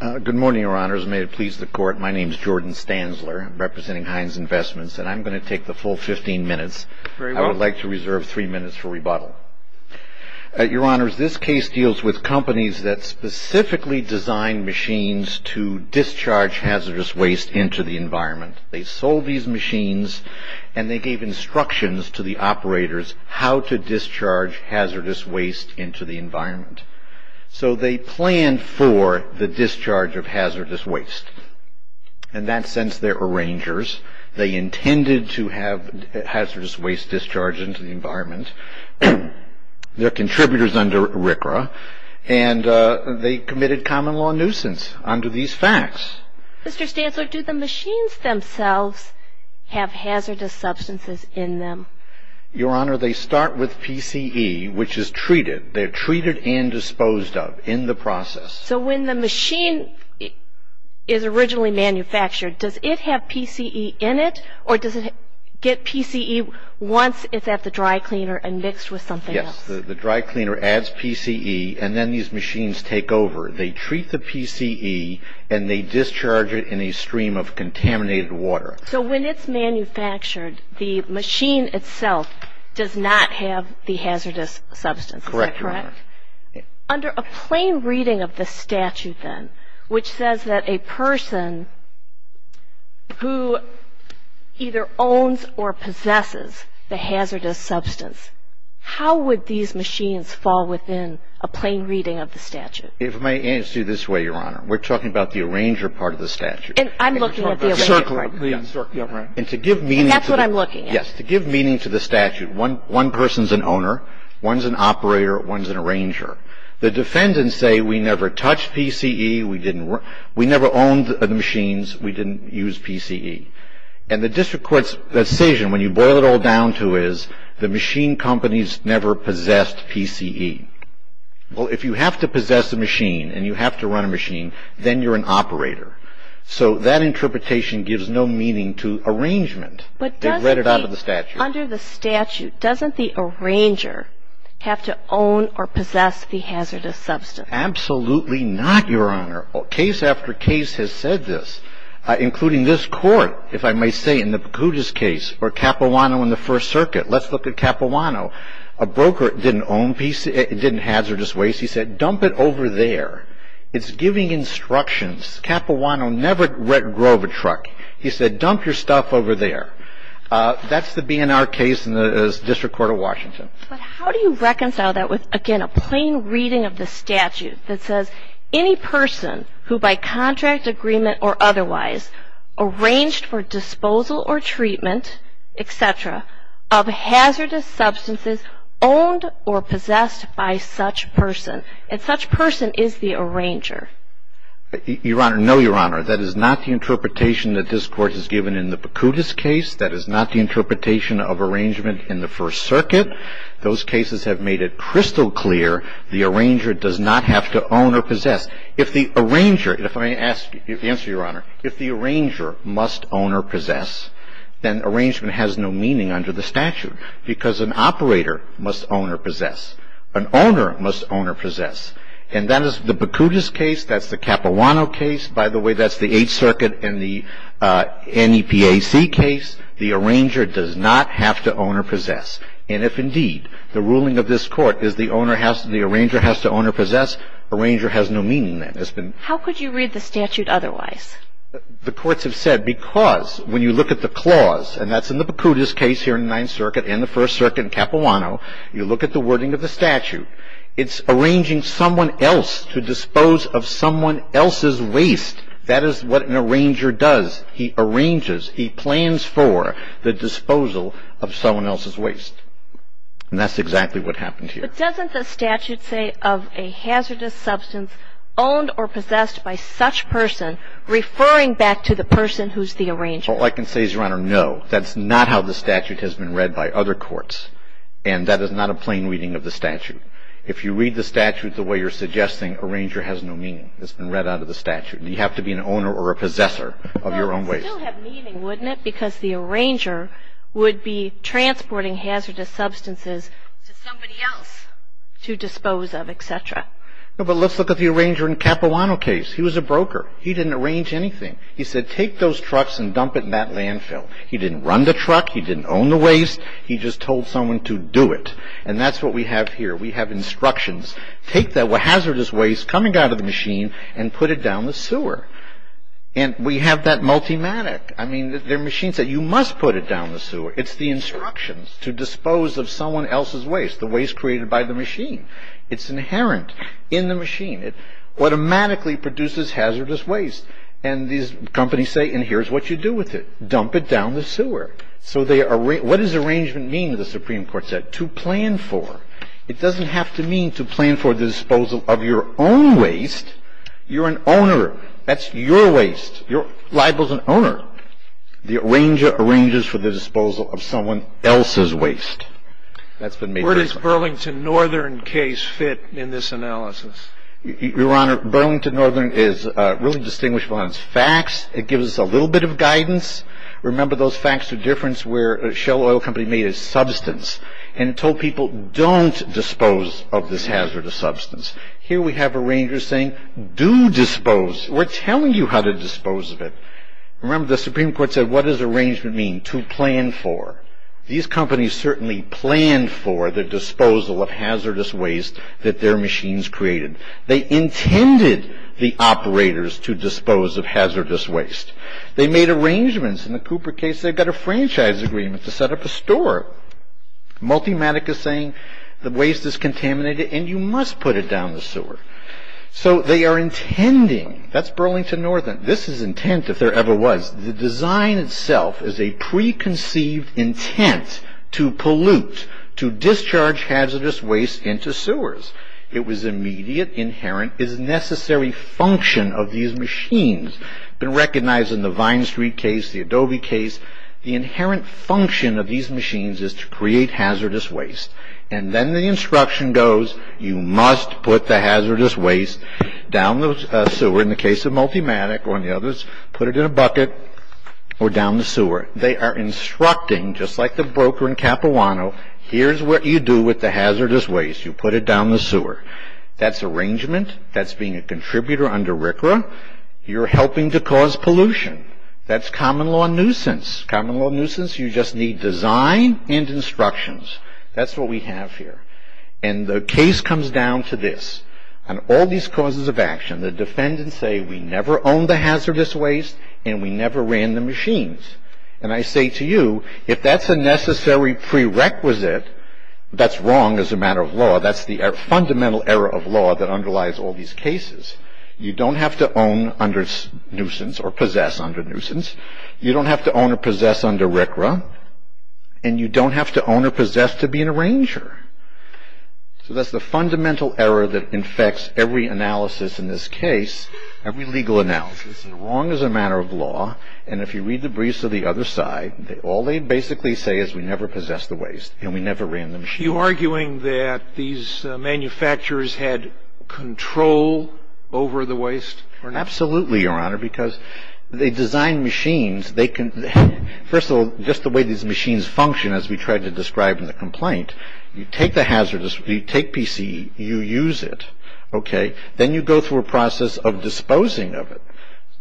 Good morning, Your Honors. May it please the Court, my name is Jordan Stanzler, representing Heinz Investments, and I'm going to take the full 15 minutes. I would like to reserve three minutes for rebuttal. Your Honors, this case deals with companies that specifically design machines to discharge hazardous waste into the environment. They sold these machines and they gave instructions to the operators how to discharge hazardous waste into the environment. So they planned for the discharge of hazardous waste. In that sense, they're arrangers. They intended to have hazardous waste discharged into the environment. They're contributors under RCRA, and they committed common law nuisance under these facts. Mr. Stanzler, do the machines themselves have hazardous substances in them? Your Honor, they start with PCE, which is treated. They're treated and disposed of in the process. So when the machine is originally manufactured, does it have PCE in it, or does it get PCE once it's at the dry cleaner and mixed with something else? Yes. The dry cleaner adds PCE, and then these machines take over. They treat the PCE, and they discharge it in a stream of contaminated water. So when it's manufactured, the machine itself does not have the hazardous substance. Is that correct? Correct, Your Honor. Under a plain reading of the statute, then, which says that a person who either owns or possesses the hazardous substance, how would these machines fall within a plain reading of the statute? If I may answer you this way, Your Honor, we're talking about the arranger part of the statute. And I'm looking at the arranger part. And to give meaning to the statute, one person's an owner, one's an operator, one's an arranger, the defendants say we never touched PCE, we never owned the machines, we didn't use PCE. And the district court's decision, when you boil it all down to it, is the machine companies never possessed PCE. Well, if you have to possess a machine and you have to run a machine, then you're an operator. So that interpretation gives no meaning to arrangement. They've read it out of the statute. Under the statute, doesn't the arranger have to own or possess the hazardous substance? Absolutely not, Your Honor. Case after case has said this, including this court, if I may say, in the Pucutis case, or Capuano in the First Circuit. Let's look at Capuano. A broker didn't own PCE, didn't hazardous waste. He said, dump it over there. It's giving instructions. Capuano never drove a truck. He said, dump your stuff over there. That's the B&R case in the District Court of Washington. But how do you reconcile that with, again, a plain reading of the statute that says any person who, by contract agreement or otherwise, arranged for disposal or treatment, et cetera, of hazardous substances owned or possessed by such person, and such person is the arranger? Your Honor, no, Your Honor. That is not the interpretation that this court has given in the Pucutis case. That is not the interpretation of arrangement in the First Circuit. Those cases have made it crystal clear the arranger does not have to own or possess. If the arranger, if I may ask, answer, Your Honor, if the arranger must own or possess, then arrangement has no meaning under the statute, because an operator must own or possess. An owner must own or possess. And that is the Pucutis case. That's the Capuano case. By the way, that's the Eighth Circuit and the NEPAC case. The arranger does not have to own or possess. And if, indeed, the ruling of this Court is the owner has to, the arranger has to own or possess, arranger has no meaning in that. How could you read the statute otherwise? The courts have said because when you look at the clause, and that's in the Pucutis case here in the Ninth Circuit and the First Circuit in Capuano, you look at the wording of the That is what an arranger does. He arranges, he plans for the disposal of someone else's waste. And that's exactly what happened here. But doesn't the statute say of a hazardous substance owned or possessed by such person referring back to the person who's the arranger? All I can say is, Your Honor, no. That's not how the statute has been read by other courts. And that is not a plain reading of the statute. If you read the statute the way you're suggesting, arranger has no meaning. It's been read out of the statute. You have to be an owner or a possessor of your own waste. But it would still have meaning, wouldn't it? Because the arranger would be transporting hazardous substances to somebody else to dispose of, et cetera. But let's look at the arranger in Capuano case. He was a broker. He didn't arrange anything. He said take those trucks and dump it in that landfill. He didn't run the truck. He didn't own the waste. He just told someone to do it. And that's what we have here. We have instructions. Take that hazardous waste coming out of the machine and put it down the sewer. And we have that multimatic. I mean, they're machines that you must put it down the sewer. It's the instructions to dispose of someone else's waste, the waste created by the machine. It's inherent in the machine. It automatically produces hazardous waste. And these companies say, and here's what What does arrangement mean that the Supreme Court said? To plan for. It doesn't have to mean to plan for the disposal of your own waste. You're an owner. That's your waste. Your liable's an owner. The arranger arranges for the disposal of someone else's waste. That's been made clear. Where does Burlington Northern case fit in this analysis? Your Honor, Burlington Northern is really distinguishable on its facts. It gives us a little bit of guidance. Remember those facts of difference where a shale oil company made a substance and told people, don't dispose of this hazardous substance. Here we have arrangers saying, do dispose. We're telling you how to dispose of it. Remember the Supreme Court said, what does arrangement mean? To plan for. These companies certainly planned for the disposal of hazardous waste that their machines created. They intended the operators to dispose of hazardous waste. They made arrangements. In the Cooper case, they got a franchise agreement to set up a store. Multimatica saying, the waste is contaminated and you must put it down the sewer. So they are intending, that's Burlington Northern. This is intent, if there ever was. The design itself is a preconceived intent to pollute, to create hazardous waste. And then the instruction goes, you must put the hazardous waste down the sewer. In the case of Multimatica, one of the others, put it in a bucket or down the sewer. They are instructing, just like the broker in Capuano, here's what you do with the hazardous waste. You put it down the sewer. That's arrangement. That's being a contributor under RCRA. You're helping to cause pollution. That's common law nuisance. Common law nuisance, you just need design and instructions. That's what we have here. And the case comes down to this. On all these causes of action, the defendants say, we never owned the hazardous waste and we never ran the machines. And I say to you, if that's a necessary prerequisite, that's wrong as a matter of law. That's the fundamental error of law that underlies all these cases. You don't have to own under nuisance or possess under nuisance. You don't have to own or possess under RCRA. And you don't have to own or possess to be an arranger. So that's the fundamental error that infects every analysis in this case, every legal analysis. It's wrong as a matter of law. And if you read the briefs of the other side, all they basically say is we never possessed the waste and we never ran the machines. You're arguing that these manufacturers had control over the waste? Absolutely, Your Honor, because they designed machines. They can – first of all, just the way these machines function, as we tried to describe in the complaint, you take the hazardous – you take PCE, you use it, okay? Then you go through a process of disposing of it.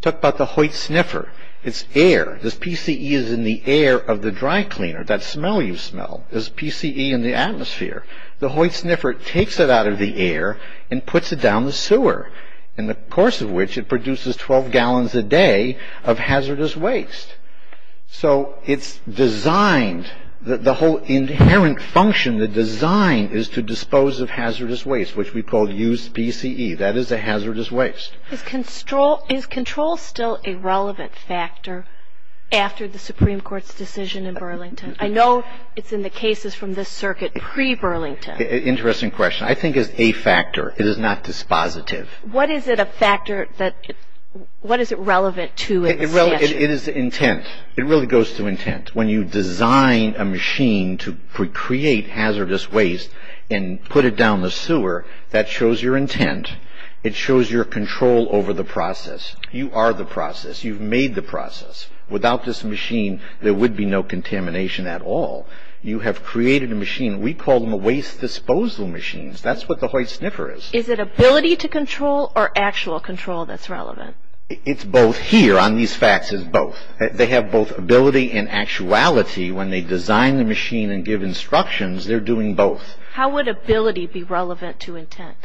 Talk about the Hoyt sniffer. It's air. This PCE is in the air of the dry cleaner. That smell you smell is PCE in the atmosphere. The Hoyt sniffer takes it out of the air and puts it down the sewer, in the course of which it produces 12 gallons a day of hazardous waste. So it's designed – the whole inherent function, the design is to dispose of hazardous waste, which we call used PCE. That is a hazardous waste. Is control still a relevant factor after the Supreme Court's decision in Burlington? I know it's in the cases from this circuit pre-Burlington. Interesting question. I think it's a factor. It is not dispositive. What is it a factor that – what is it relevant to in the statute? It is intent. It really goes to intent. When you design a machine to create hazardous waste and put it down the sewer, that shows your intent. It shows your control over the process. You are the process. You've made the process. Without this machine, there would be no contamination at all. You have created a machine. We call them a waste disposal machine. That's what the Hoyt sniffer is. Is it ability to control or actual control that's relevant? It's both here on these facts. It's both. They have both ability and actuality. When they design the machine and give instructions, they're doing both. How would ability be relevant to intent?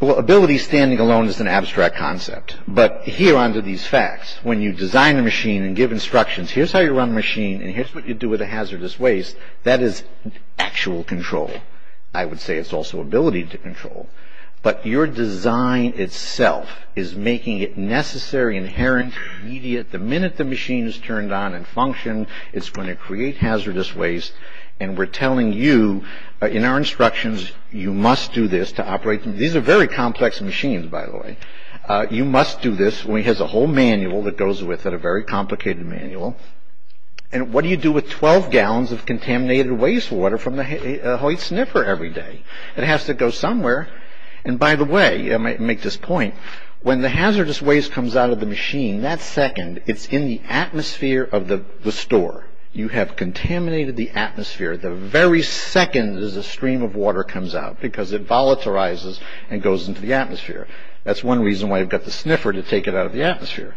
Well, ability standing alone is an abstract concept. But here on to these facts. When you design a machine and give instructions, here's how you run a machine and here's what you do with the hazardous waste, that is actual control. I would say it's also ability to control. But your design itself is making it necessary, inherent, immediate. The minute the machine is turned on and functioned, it's going to create hazardous waste. And we're telling you in our instructions, you must do this to operate. These are very complex machines, by the way. You must do this. It has a whole manual that goes with it, a very complicated manual. And what do you do with 12 gallons of contaminated waste water from the Hoyt sniffer every day? It has to go somewhere. And by the way, I might make this point, when the hazardous waste comes out of the machine, that second, it's in the atmosphere of the store. You have contaminated the atmosphere the very second there's a stream of water comes out because it volatilizes and goes into the atmosphere. That's one reason why you've got the sniffer to take it out of the atmosphere.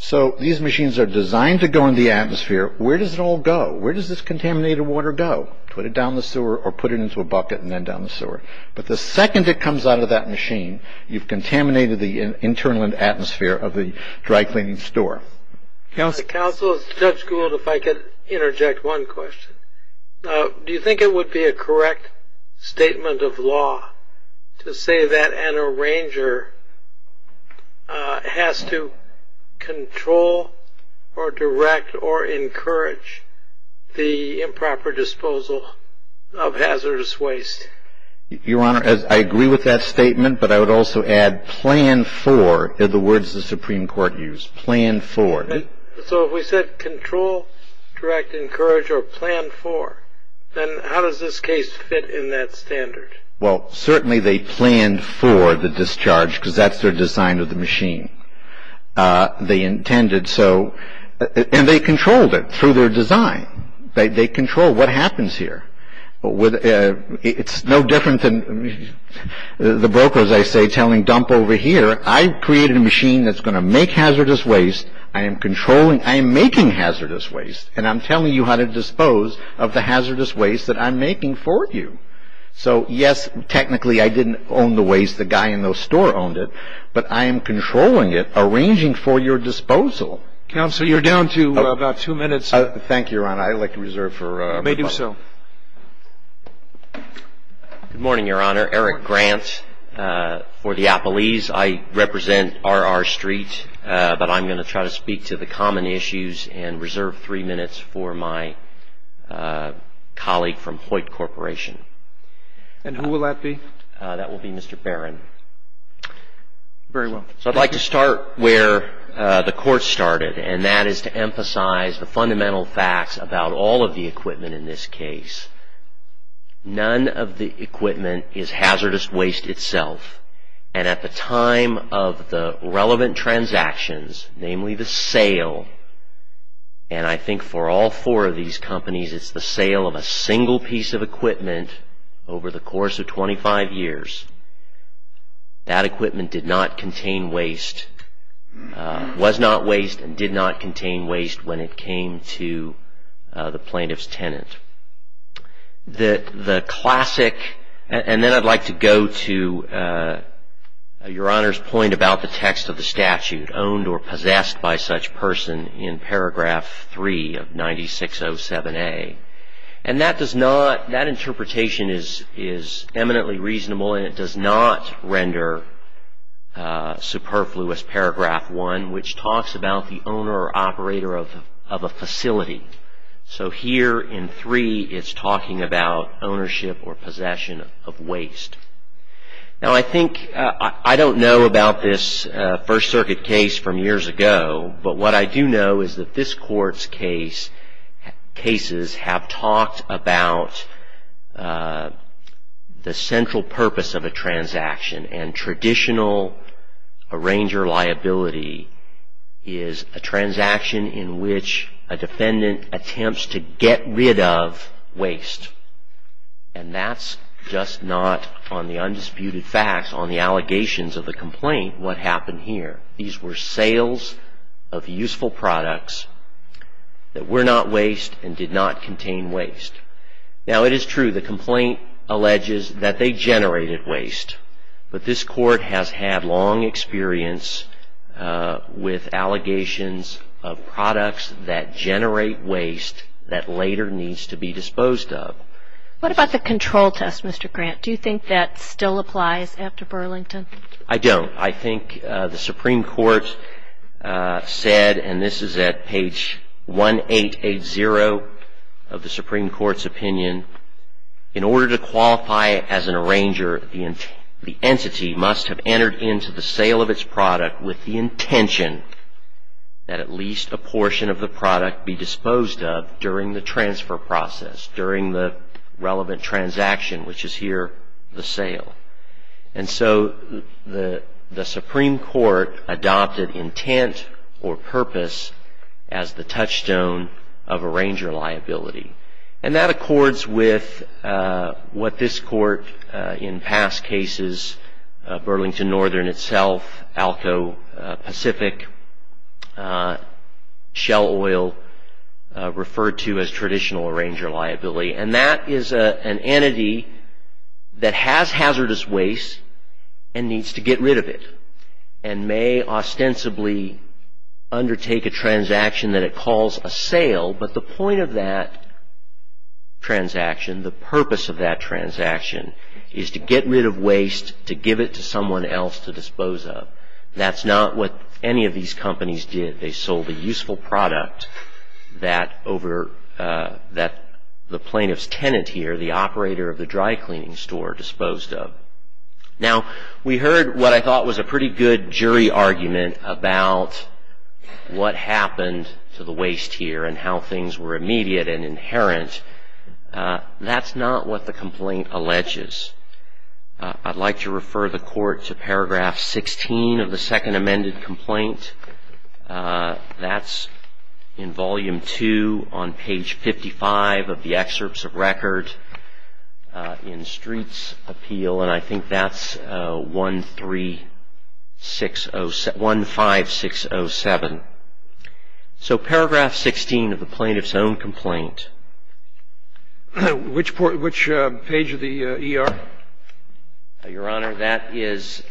So these machines are designed to go in the atmosphere. Where does it all go? Where does this contaminated water go? Put it down the sewer or put it into a bucket and then down the sewer. But the second it comes out of that machine, you've contaminated the internal atmosphere of the dry cleaning store. Counsel, Judge Gould, if I could interject one question. Do you think it would be a correct statement of law to say that an arranger has to control or direct or encourage the improper disposal of hazardous waste? Your Honor, I agree with that statement, but I would also add plan for, the words the Supreme Court used, plan for. So if we said control, direct, encourage, or plan for, then how does this case fit in that standard? Well, certainly they planned for the discharge because that's their design of the machine. They intended so. And they controlled it through their design. They control what happens here. It's no different than the brokers, I say, telling dump over here. I created a machine that's going to make hazardous waste. I am controlling. I am making hazardous waste. And I'm telling you how to dispose of the hazardous waste that I'm making for you. So, yes, technically I didn't own the waste. The guy in the store owned it. But I am controlling it, arranging for your disposal. Counsel, you're down to about two minutes. Thank you, Your Honor. I'd like to reserve for my partner. You may do so. Good morning, Your Honor. Eric Grant for Diapolese. I represent RR Street. But I'm going to try to speak to the common issues and reserve three minutes for my colleague from Hoyt Corporation. And who will that be? That will be Mr. Barron. Very well. So I'd like to start where the court started, and that is to emphasize the fundamental facts about all of the equipment in this case. None of the equipment is hazardous waste itself. And at the time of the relevant transactions, namely the sale, and I think for all four of these companies it's the sale of a single piece of equipment over the course of 25 years, that equipment did not contain waste, was not waste and did not contain waste when it came to the plaintiff's tenant. The classic, and then I'd like to go to Your Honor's point about the text of the statute, owned or possessed by such person in paragraph 3 of 9607A. And that interpretation is eminently reasonable and it does not render superfluous paragraph 1, which talks about the owner or operator of a facility. So here in 3 it's talking about ownership or possession of waste. Now I think, I don't know about this First Circuit case from years ago, but what I do know is that this court's cases have talked about the central purpose of a transaction and traditional arranger liability is a transaction in which a defendant attempts to get rid of waste. And that's just not on the undisputed facts on the allegations of the complaint what happened here. These were sales of useful products that were not waste and did not contain waste. Now it is true the complaint alleges that they generated waste, but this court has had long experience with allegations of products that generate waste that later needs to be disposed of. What about the control test, Mr. Grant? Do you think that still applies after Burlington? I don't. I think the Supreme Court said, and this is at page 1880 of the Supreme Court's opinion, in order to qualify as an arranger, the entity must have entered into the sale of its product with the intention that at least a portion of the product be disposed of during the transfer process, during the relevant transaction, which is here the sale. And so the Supreme Court adopted intent or purpose as the touchstone of arranger liability. And that accords with what this court in past cases, Burlington Northern itself, Alco Pacific, Shell Oil, referred to as traditional arranger liability. And that is an entity that has hazardous waste and needs to get rid of it and may ostensibly undertake a transaction that it calls a sale. But the point of that transaction, the purpose of that transaction, is to get rid of waste, to give it to someone else to dispose of. That's not what any of these companies did. They sold a useful product that the plaintiff's tenant here, the operator of the dry cleaning store, disposed of. Now, we heard what I thought was a pretty good jury argument about what happened to the waste here and how things were immediate and inherent. That's not what the complaint alleges. I'd like to refer the court to paragraph 16 of the second amended complaint. That's in volume 2 on page 55 of the excerpts of record in Streets Appeal. And I think that's 1-5-6-0-7. So paragraph 16 of the plaintiff's own complaint. Which page of the ER? Your Honor, that is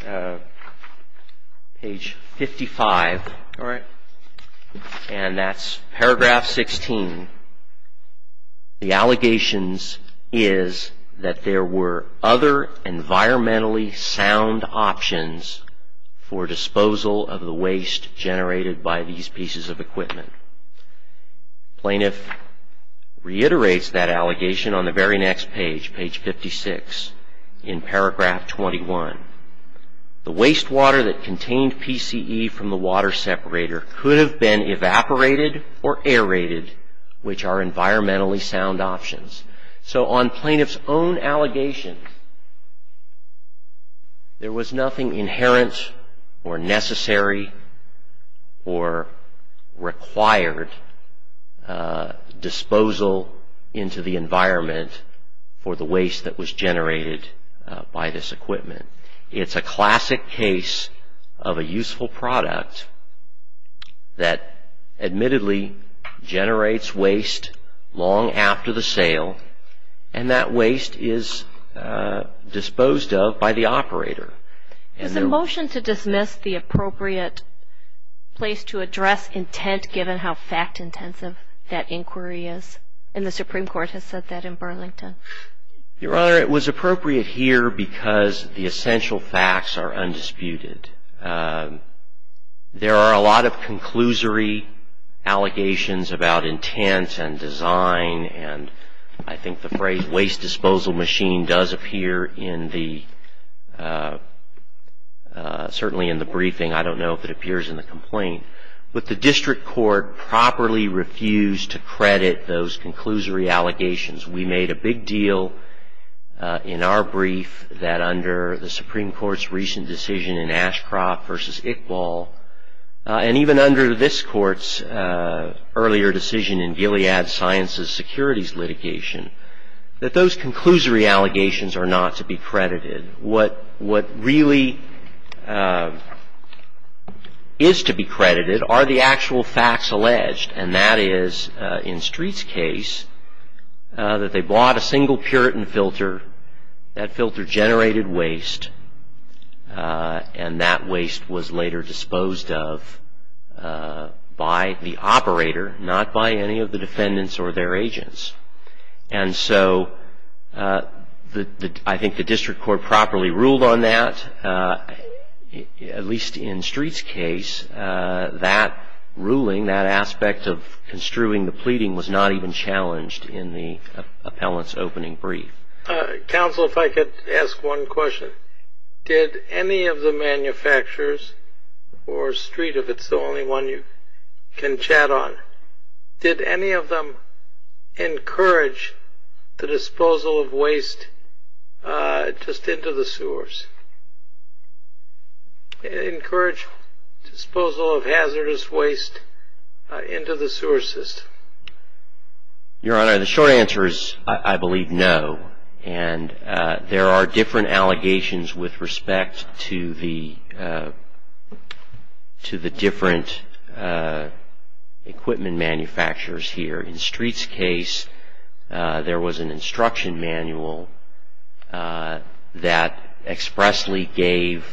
page 55. All right. And that's paragraph 16. The allegations is that there were other environmentally sound options for disposal of the waste generated by these pieces of equipment. Plaintiff reiterates that allegation on the very next page, page 56, in paragraph 21. The wastewater that contained PCE from the water separator could have been evaporated or aerated, which are environmentally sound options. So on plaintiff's own allegation, there was nothing inherent or necessary or required disposal into the environment for the waste that was generated by this equipment. It's a classic case of a useful product that admittedly generates waste long after the sale and that waste is disposed of by the operator. Was the motion to dismiss the appropriate place to address intent, given how fact intensive that inquiry is? And the Supreme Court has said that in Burlington. Your Honor, it was appropriate here because the essential facts are undisputed. There are a lot of conclusory allegations about intent and design. And I think the phrase waste disposal machine does appear in the, certainly in the briefing. I don't know if it appears in the complaint. But the district court properly refused to credit those conclusory allegations. We made a big deal in our brief that under the Supreme Court's recent decision in Ashcroft versus Iqbal, and even under this court's earlier decision in Gilead Sciences Securities litigation, that those conclusory allegations are not to be credited. What really is to be credited are the actual facts alleged. And that is, in Street's case, that they bought a single Puritan filter. That filter generated waste. And that waste was later disposed of by the operator, not by any of the defendants or their agents. And so I think the district court properly ruled on that, at least in Street's case. And that ruling, that aspect of construing the pleading, was not even challenged in the appellant's opening brief. Counsel, if I could ask one question. Did any of the manufacturers, or Street, if it's the only one you can chat on, did any of them encourage the disposal of waste just into the sewers? Did they encourage disposal of hazardous waste into the sewer system? Your Honor, the short answer is, I believe, no. And there are different allegations with respect to the different equipment manufacturers here. In Street's case, there was an instruction manual that expressly gave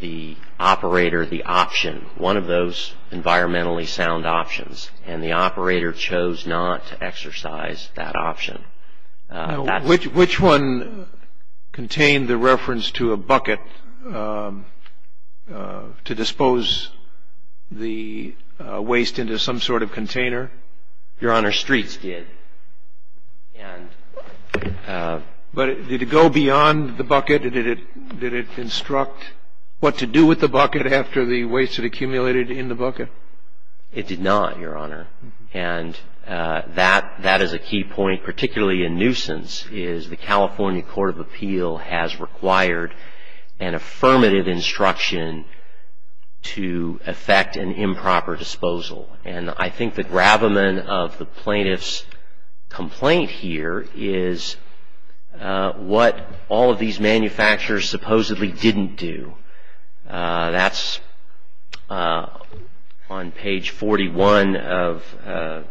the operator the option, one of those environmentally sound options. And the operator chose not to exercise that option. Which one contained the reference to a bucket to dispose the waste into some sort of container? Your Honor, Street's did. But did it go beyond the bucket? Did it instruct what to do with the bucket after the waste had accumulated in the bucket? It did not, Your Honor. And that is a key point, particularly in nuisance, is the California Court of Appeal has required an affirmative instruction to effect an improper disposal. And I think the gravamen of the plaintiff's complaint here is what all of these manufacturers supposedly didn't do. That's on page 41 of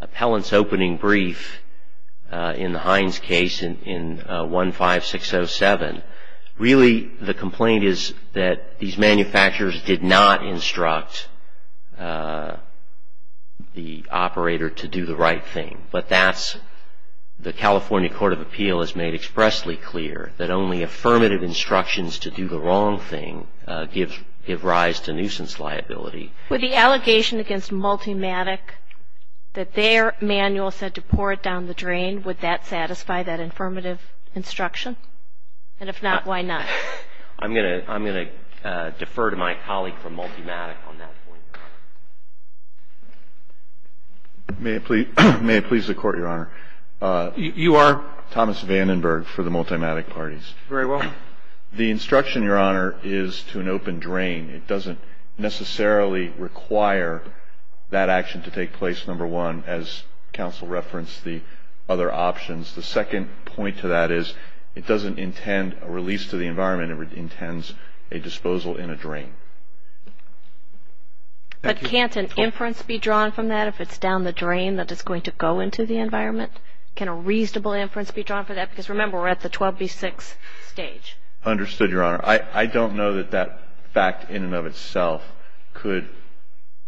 Appellant's opening brief in the Hines case in 15607. Really, the complaint is that these manufacturers did not instruct the operator to do the right thing. But that's the California Court of Appeal has made expressly clear, that only affirmative instructions to do the wrong thing give rise to nuisance liability. With the allegation against Multimatic that their manual said to pour it down the drain, would that satisfy that affirmative instruction? And if not, why not? I'm going to defer to my colleague from Multimatic on that point. May it please the Court, Your Honor? You are? Thomas Vandenberg for the Multimatic parties. Very well. The instruction, Your Honor, is to an open drain. It doesn't necessarily require that action to take place, number one, as counsel referenced, the other options. The second point to that is it doesn't intend a release to the environment, it intends a disposal in a drain. But can't an inference be drawn from that if it's down the drain that it's going to go into the environment? Can a reasonable inference be drawn for that? Because remember, we're at the 12B6 stage. Understood, Your Honor. I don't know that that fact in and of itself could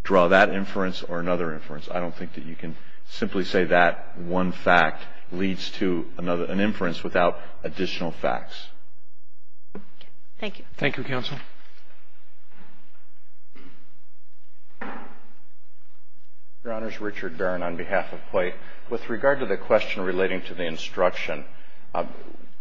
draw that inference or another inference. I don't think that you can simply say that one fact leads to another, an inference without additional facts. Thank you. Thank you, counsel. Your Honor, it's Richard Barron on behalf of COIT. With regard to the question relating to the instruction,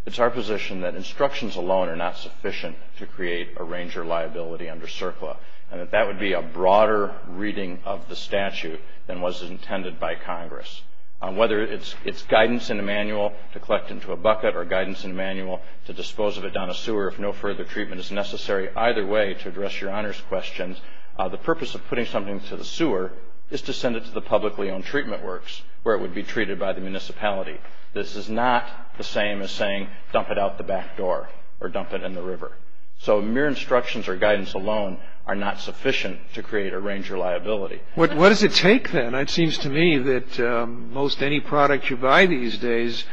it's our position that instructions alone are not sufficient to create a ranger liability under CERCLA, and that that would be a broader reading of the statute than was intended by Congress. Whether it's guidance in a manual to collect into a bucket or guidance in a manual to dispose of it down a sewer if no further treatment is necessary either way to address Your Honor's questions, the purpose of putting something to the sewer is to send it to the publicly owned treatment works where it would be treated by the municipality. This is not the same as saying dump it out the back door or dump it in the river. So mere instructions or guidance alone are not sufficient to create a ranger liability. What does it take then? It seems to me that most any product you buy these days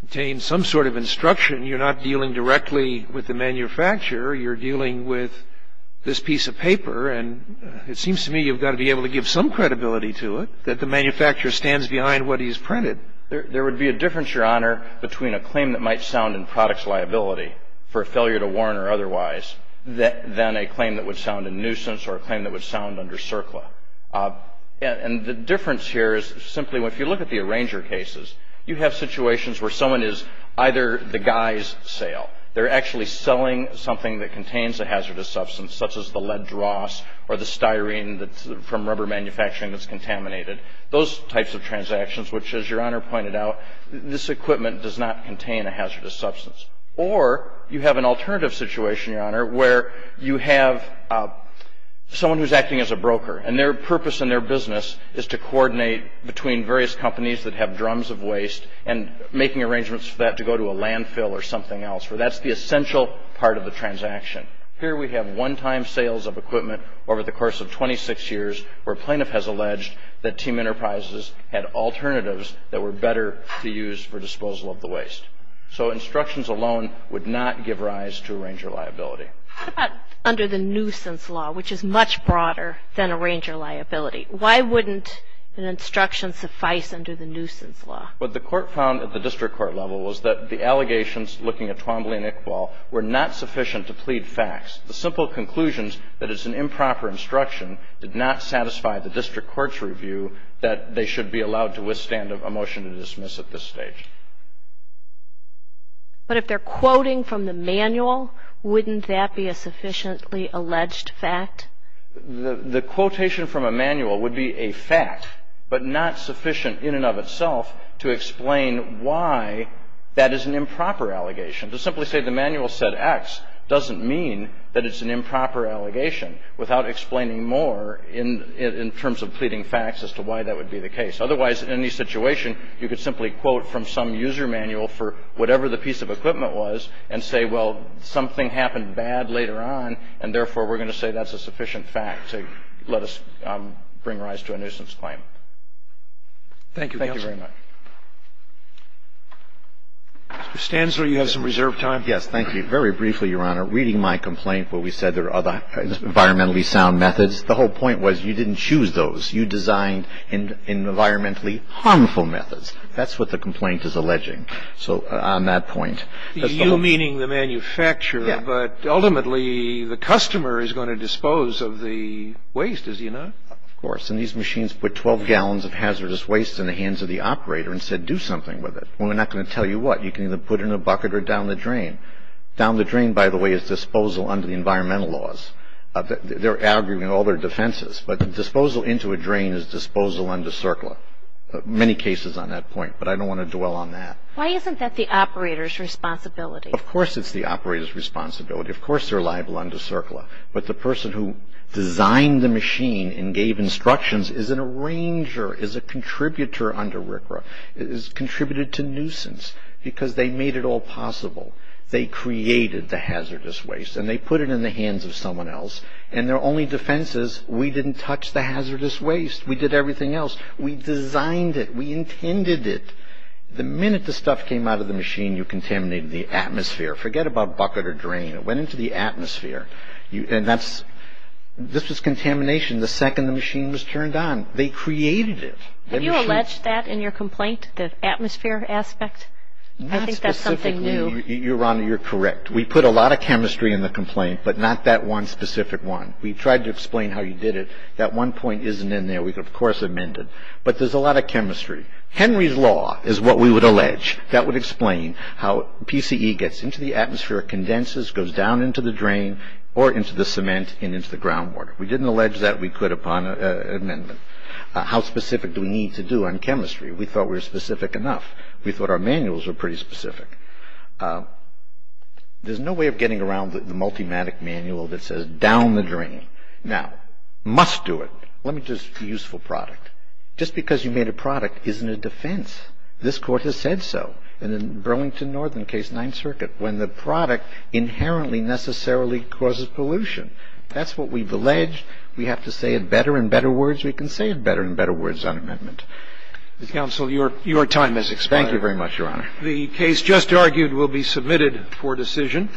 contains some sort of instruction. You're not dealing directly with the manufacturer. You're dealing with this piece of paper, and it seems to me you've got to be able to give some credibility to it, that the manufacturer stands behind what he's printed. There would be a difference, Your Honor, between a claim that might sound in products liability for a failure to warn or otherwise than a claim that would sound in nuisance or a claim that would sound under CERCLA. And the difference here is simply if you look at the arranger cases, you have situations where someone is either the guy's sale. They're actually selling something that contains a hazardous substance, such as the lead dross or the styrene from rubber manufacturing that's contaminated. Those types of transactions which, as Your Honor pointed out, this equipment does not contain a hazardous substance. Or you have an alternative situation, Your Honor, where you have someone who's acting as a broker, and their purpose in their business is to coordinate between various companies that have drums of waste and making arrangements for that to go to a landfill or something else, where that's the essential part of the transaction. Here we have one-time sales of equipment over the course of 26 years where a plaintiff has alleged that team enterprises had alternatives that were better to use for disposal of the waste. So instructions alone would not give rise to arranger liability. What about under the nuisance law, which is much broader than arranger liability? Why wouldn't an instruction suffice under the nuisance law? What the court found at the district court level was that the allegations, looking at Twombly and Iqbal, were not sufficient to plead facts. The simple conclusions that it's an improper instruction did not satisfy the district court's review that they should be allowed to withstand a motion to dismiss at this stage. But if they're quoting from the manual, wouldn't that be a sufficiently alleged fact? The quotation from a manual would be a fact, but not sufficient in and of itself to explain why that is an improper allegation. To simply say the manual said X doesn't mean that it's an improper allegation without explaining more in terms of pleading facts as to why that would be the case. Otherwise, in any situation, you could simply quote from some user manual for whatever the piece of equipment was and say, well, something happened bad later on, and therefore we're going to say that's a sufficient fact to let us bring rise to a nuisance claim. Thank you, counsel. Thank you very much. Mr. Stanzler, you have some reserved time. Yes, thank you. Very briefly, Your Honor, reading my complaint where we said there are other environmentally sound methods, the whole point was you didn't choose those. You designed environmentally harmful methods. That's what the complaint is alleging. So on that point, that's the whole point. You meaning the manufacturer. But ultimately, the customer is going to dispose of the waste, is he not? Of course. And these machines put 12 gallons of hazardous waste in the hands of the operator and said do something with it. Well, we're not going to tell you what. You can either put it in a bucket or down the drain. Down the drain, by the way, is disposal under the environmental laws. They're arguing all their defenses. But disposal into a drain is disposal under CERCLA. Many cases on that point, but I don't want to dwell on that. Why isn't that the operator's responsibility? Of course it's the operator's responsibility. Of course they're liable under CERCLA. But the person who designed the machine and gave instructions is an arranger, is a contributor under RCRA, is contributed to nuisance because they made it all possible. They created the hazardous waste and they put it in the hands of someone else. And their only defense is we didn't touch the hazardous waste. We did everything else. We designed it. We intended it. The minute the stuff came out of the machine, you contaminated the atmosphere. Forget about bucket or drain. It went into the atmosphere. And this was contamination the second the machine was turned on. They created it. Have you alleged that in your complaint, the atmosphere aspect? I think that's something new. Not specifically. Your Honor, you're correct. We put a lot of chemistry in the complaint, but not that one specific one. We tried to explain how you did it. That one point isn't in there. We, of course, amend it. But there's a lot of chemistry. Henry's law is what we would allege. That would explain how PCE gets into the atmosphere, condenses, goes down into the drain or into the cement and into the ground water. We didn't allege that we could upon amendment. How specific do we need to do on chemistry? We thought we were specific enough. We thought our manuals were pretty specific. There's no way of getting around the multimatic manual that says down the drain. Now, must do it. Let me just, useful product. Just because you made a product isn't a defense. This Court has said so in the Burlington Northern case, Ninth Circuit, when the product inherently necessarily causes pollution. That's what we've alleged. We have to say it better and better words. We can say it better and better words on amendment. Mr. Counsel, your time has expired. Thank you very much, Your Honor. The case just argued will be submitted for decision.